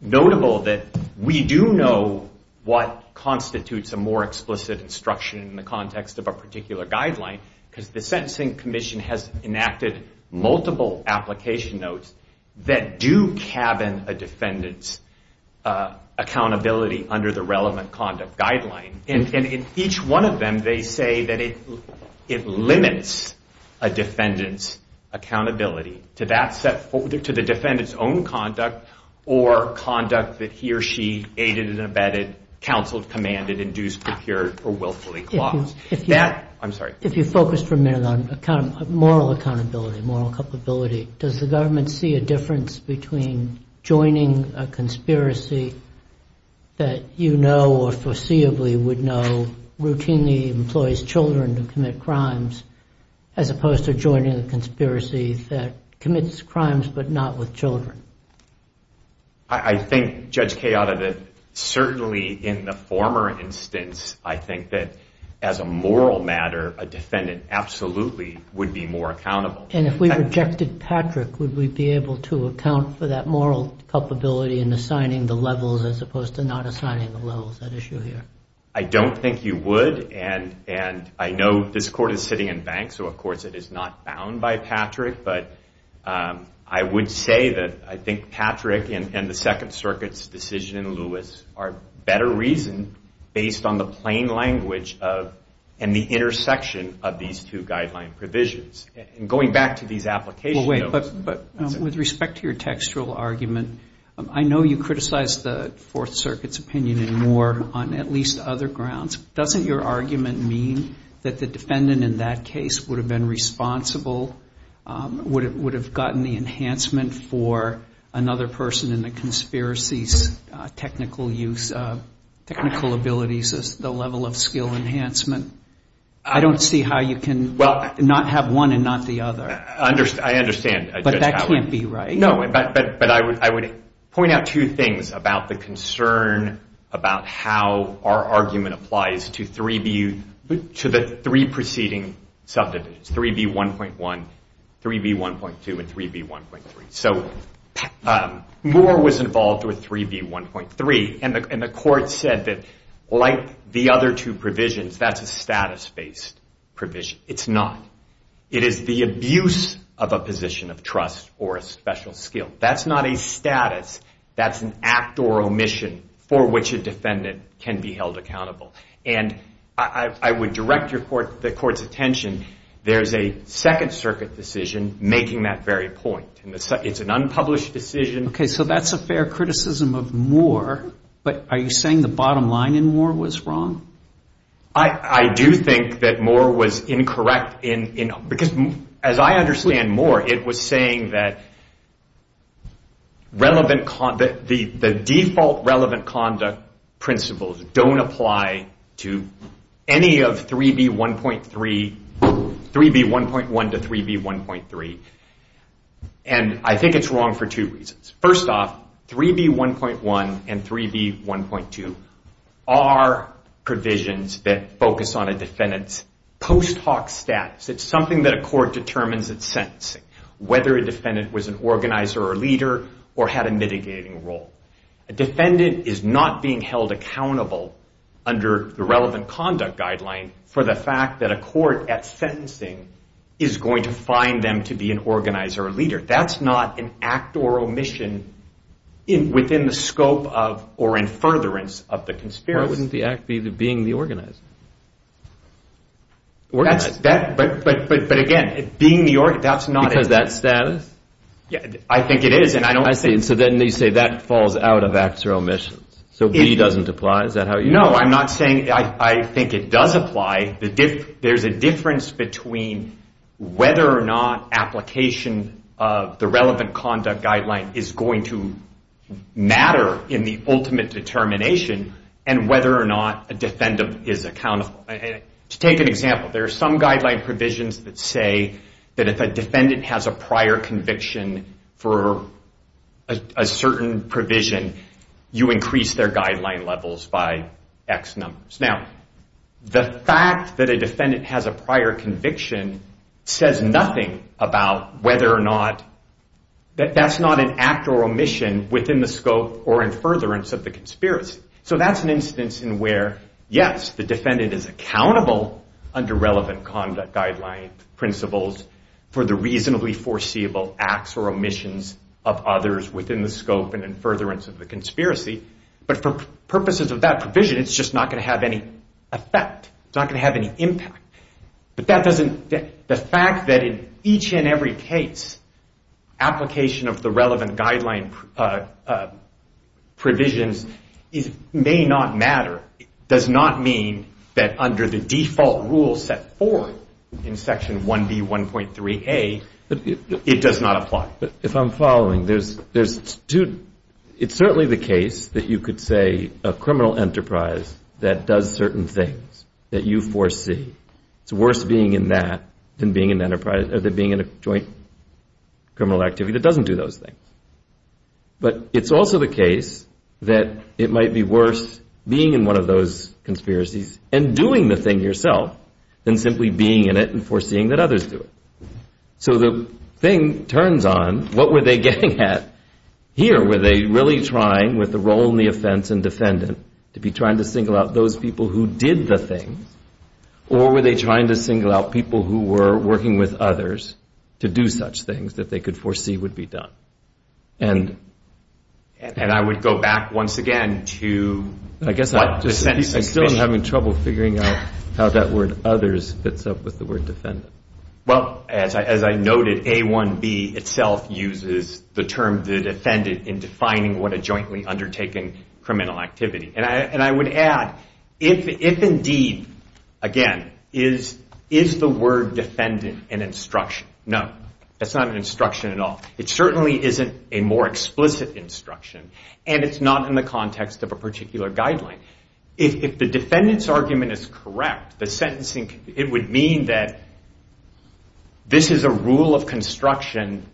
notable that we do know what constitutes a more explicit instruction in the context of a particular guideline because the Sentencing Commission has enacted multiple application notes that do cabin a defendant's accountability under the relevant conduct guideline. And in each one of them, they say that it limits a defendant's accountability to the defendant's own conduct or conduct that he or she aided and abetted, counseled, commanded, induced, procured, or willfully claused. If you focus for a minute on moral accountability, moral culpability, does the government see a difference between joining a conspiracy that you know or foreseeably would know routinely employs children to commit crimes as opposed to joining a conspiracy that commits crimes but not with children? I think, Judge Chioda, that certainly in the former instance, I think that as a moral matter, a defendant absolutely would be more accountable. And if we rejected Patrick, would we be able to account for that moral culpability in assigning the levels as opposed to not assigning the levels at issue here? I don't think you would, and I know this Court is sitting in bank, so of course it is not bound by Patrick. But I would say that I think Patrick and the Second Circuit's decision in Lewis are better reasoned based on the plain language of and the intersection of these two guideline provisions. And going back to these application notes... I know you criticize the Fourth Circuit's opinion in Moore on at least other grounds. Doesn't your argument mean that the defendant in that case would have been responsible, would have gotten the enhancement for another person in the conspiracy's technical use, technical abilities, the level of skill enhancement? I don't see how you can not have one and not the other. I understand, Judge Chioda. But that can't be right. No, but I would point out two things about the concern about how our argument applies to the three preceding subdivisions, 3B1.1, 3B1.2, and 3B1.3. So Moore was involved with 3B1.3, and the Court said that like the other two provisions, that's a status-based provision. It's not. It is the abuse of a position of trust or a special skill. That's not a status. That's an act or omission for which a defendant can be held accountable. And I would direct the Court's attention, there's a Second Circuit decision making that very point. It's an unpublished decision. Okay, so that's a fair criticism of Moore, but are you saying the bottom line in Moore was wrong? I do think that Moore was incorrect, because as I understand Moore, it was saying that the default relevant conduct principles don't apply to any of 3B1.1 to 3B1.3. And I think it's wrong for two reasons. First off, 3B1.1 and 3B1.2 are provisions that focus on a defendant's post hoc status. It's something that a court determines at sentencing, whether a defendant was an organizer or leader or had a mitigating role. A defendant is not being held accountable under the relevant conduct guideline for the fact that a court at sentencing is going to find them to be an organizer or leader. That's not an act or omission within the scope of or in furtherance of the conspiracy. Why wouldn't the act be being the organizer? But again, being the organizer, that's not it. Because of that status? I think it is, and I don't think... I see, so then you say that falls out of acts or omissions. So B doesn't apply, is that how you... No, I'm not saying... I think it does apply. There's a difference between whether or not application of the relevant conduct guideline is going to matter in the ultimate determination, and whether or not a defendant is accountable. To take an example, there are some guideline provisions that say that if a defendant has a prior conviction for a certain provision, you increase their guideline levels by X numbers. Now, the fact that a defendant has a prior conviction says nothing about whether or not... That's not an act or omission within the scope or in furtherance of the conspiracy. So that's an instance in where, yes, the defendant is accountable under relevant conduct guideline principles for the reasonably foreseeable acts or omissions of others within the scope and in furtherance of the conspiracy. But for purposes of that provision, it's just not going to have any effect. It's not going to have any impact. But that doesn't... The fact that in each and every case, application of the relevant guideline provisions may not matter does not mean that under the default rule set forth in section 1B.1.3A, it does not apply. If I'm following, it's certainly the case that you could say a criminal enterprise that does certain things that you foresee, it's worse being in that than being in a joint criminal activity that doesn't do those things. But it's also the case that it might be worse being in one of those conspiracies and doing the thing yourself than simply being in it and foreseeing that others do it. So the thing turns on, what were they getting at? Here, were they really trying, with the role in the offense and defendant, to be trying to single out those people who did the thing? Or were they trying to single out people who were working with others to do such things that they could foresee would be done? And... And I would go back once again to... I guess I'm still having trouble figuring out how that word others fits up with the word defendant. Well, as I noted, A1B itself uses the term the defendant in defining what a jointly undertaken criminal activity. And I would add, if indeed, again, is the word defendant an instruction? No, that's not an instruction at all. It certainly isn't a more explicit instruction, and it's not in the context of a particular guideline. If the defendant's argument is correct, it would mean that this is a rule of construction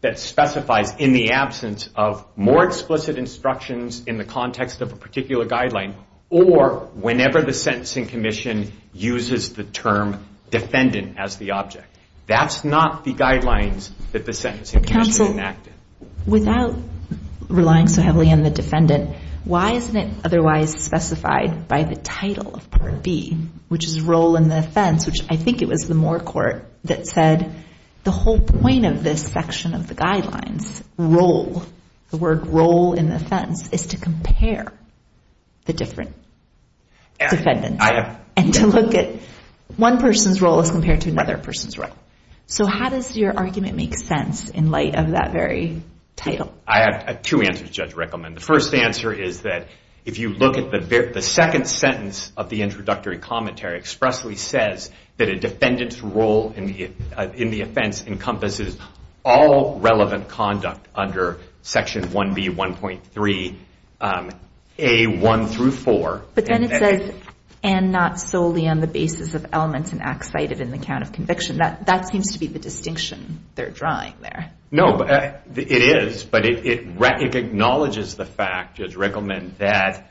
that specifies in the absence of more explicit instructions in the context of a particular guideline, or whenever the Sentencing Commission uses the term defendant as the object. That's not the guidelines that the Sentencing Commission enacted. Counsel, without relying so heavily on the defendant, why isn't it otherwise specified by the title of Part B, which is role in the offense, which I think it was the Moore court that said the whole point of this section of the guidelines, role, the word role in the offense, is to compare the different defendants and to look at one person's role as compared to another person's role. So how does your argument make sense in light of that very title? I have two answers, Judge Rickleman. The first answer is that if you look at the second sentence of the introductory commentary, it expressly says that a defendant's role in the offense encompasses all relevant conduct under Section 1B1.3A1 through 4. But then it says, and not solely on the basis of elements and acts cited in the count of conviction. That seems to be the distinction they're drawing there. No, it is, but it acknowledges the fact, Judge Rickleman, that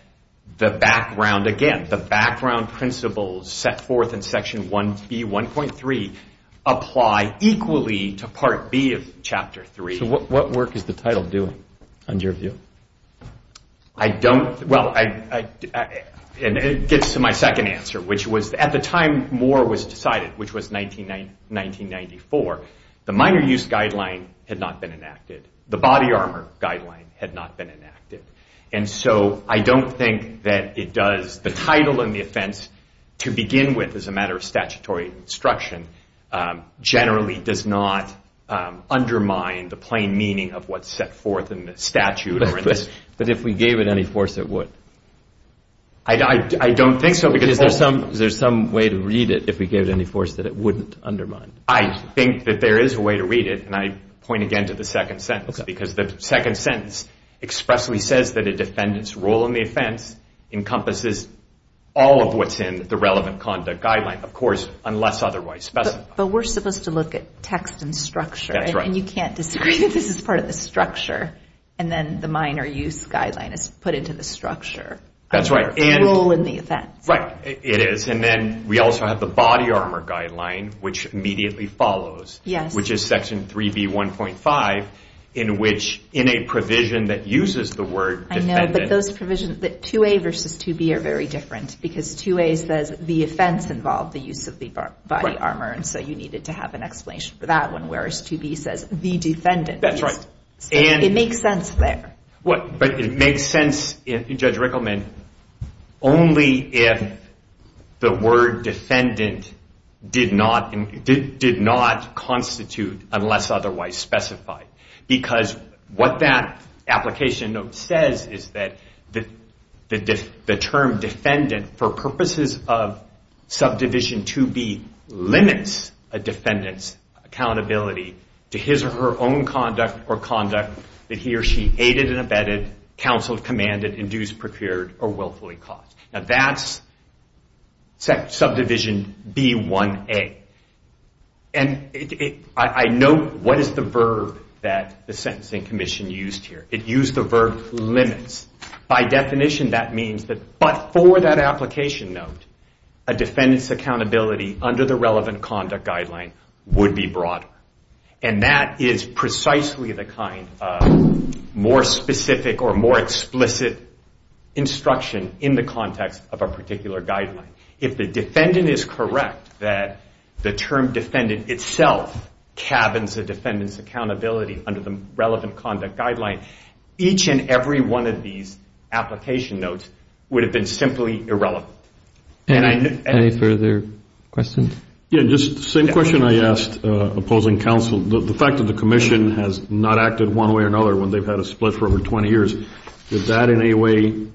the background, again, the background principles set forth in Section 1B1.3 apply equally to Part B of Chapter 3. So what work is the title doing, in your view? I don't, well, it gets to my second answer, which was at the time Moore was decided, which was 1994, the minor use guideline had not been enacted. The body armor guideline had not been enacted. And so I don't think that it does. The title in the offense, to begin with as a matter of statutory instruction, generally does not undermine the plain meaning of what's set forth in the statute. But if we gave it any force, it would? I don't think so. Because there's some way to read it if we gave it any force that it wouldn't undermine. I think that there is a way to read it, and I point again to the second sentence, because the second sentence expressly says that a defendant's role in the offense encompasses all of what's in the relevant conduct guideline, of course, unless otherwise specified. But we're supposed to look at text and structure. That's right. And you can't disagree that this is part of the structure, and then the minor use guideline is put into the structure of the role in the offense. Right, it is. And then we also have the body armor guideline, which immediately follows, which is Section 3B1.5, in which in a provision that uses the word defendant. I know, but those provisions, 2A versus 2B are very different, because 2A says the offense involved the use of the body armor, and so you needed to have an explanation for that one, whereas 2B says the defendant. That's right. It makes sense there. But it makes sense, Judge Rickleman, only if the word defendant did not constitute, unless otherwise specified, because what that application note says is that the term defendant, for purposes of subdivision 2B, limits a defendant's accountability to his or her own conduct that he or she aided and abetted, counseled, commanded, induced, procured, or willfully caused. Now that's Subdivision B1A. And I note what is the verb that the Sentencing Commission used here. It used the verb limits. By definition, that means that but for that application note, a defendant's accountability under the relevant conduct guideline would be broader. And that is precisely the kind of more specific or more explicit instruction in the context of a particular guideline. If the defendant is correct that the term defendant itself cabins a defendant's accountability under the relevant conduct guideline, each and every one of these application notes would have been simply irrelevant. Any further questions? Yes, just the same question I asked opposing counsel. The fact that the Commission has not acted one way or another when they've had a split for over 20 years, is that in any way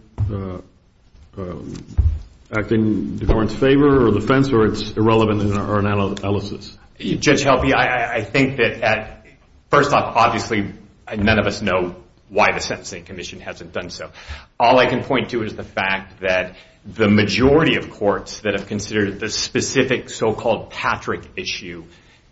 acting in the government's favor or defense or it's irrelevant in our analysis? Judge Helpe, I think that first off, obviously, none of us know why the Sentencing Commission hasn't done so. All I can point to is the fact that the majority of courts that have considered the specific so-called Patrick issue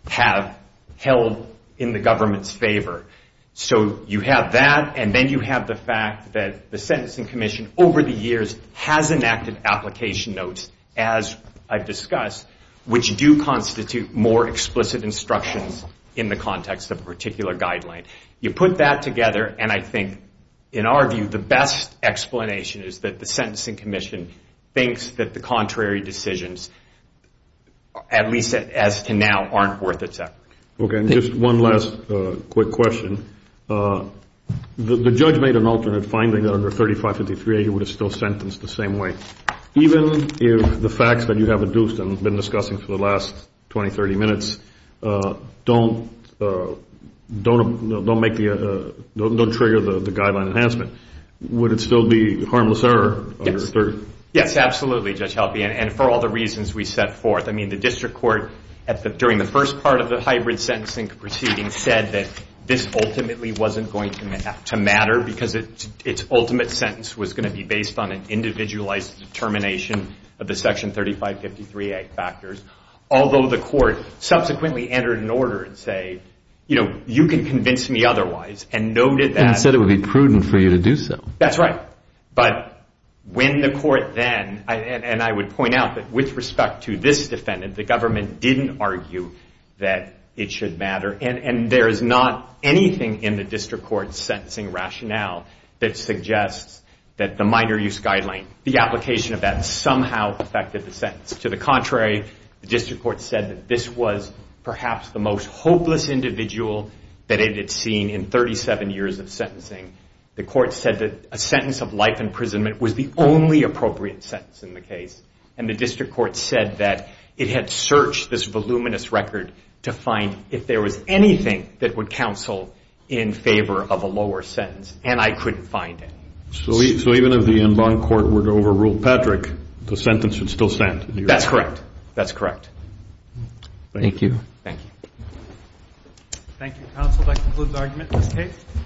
have held in the government's favor. So you have that, and then you have the fact that the Sentencing Commission, over the years, has enacted application notes, as I've discussed, which do constitute more explicit instructions in the context of a particular guideline. You put that together, and I think, in our view, the best explanation is that the Sentencing Commission thinks that the contrary decisions, at least as to now, aren't worth its effort. Okay, and just one last quick question. The judge made an alternate finding that under 3553A, you would have still sentenced the same way. Even if the facts that you have adduced and have been discussing for the last 20, 30 minutes don't trigger the guideline enhancement, would it still be harmless error? Yes. Yes, absolutely, Judge Helby, and for all the reasons we set forth. I mean, the district court, during the first part of the hybrid sentencing proceedings, said that this ultimately wasn't going to matter because its ultimate sentence was going to be based on an individualized determination of the Section 3553A factors, although the court subsequently entered an order and said, you know, you can convince me otherwise, and noted that. And said it would be prudent for you to do so. That's right. But when the court then, and I would point out that with respect to this defendant, the government didn't argue that it should matter, and there is not anything in the district court's sentencing rationale that suggests that the minor use guideline, the application of that, somehow affected the sentence. To the contrary, the district court said that this was perhaps the most hopeless individual that it had seen in 37 years of sentencing. The court said that a sentence of life imprisonment was the only appropriate sentence in the case, and the district court said that it had searched this voluminous record to find if there was anything that would counsel in favor of a lower sentence, and I couldn't find it. So even if the en banc court were to overrule Patrick, the sentence would still stand? That's correct. That's correct. Thank you. Thank you. Thank you, counsel. That concludes argument in this case.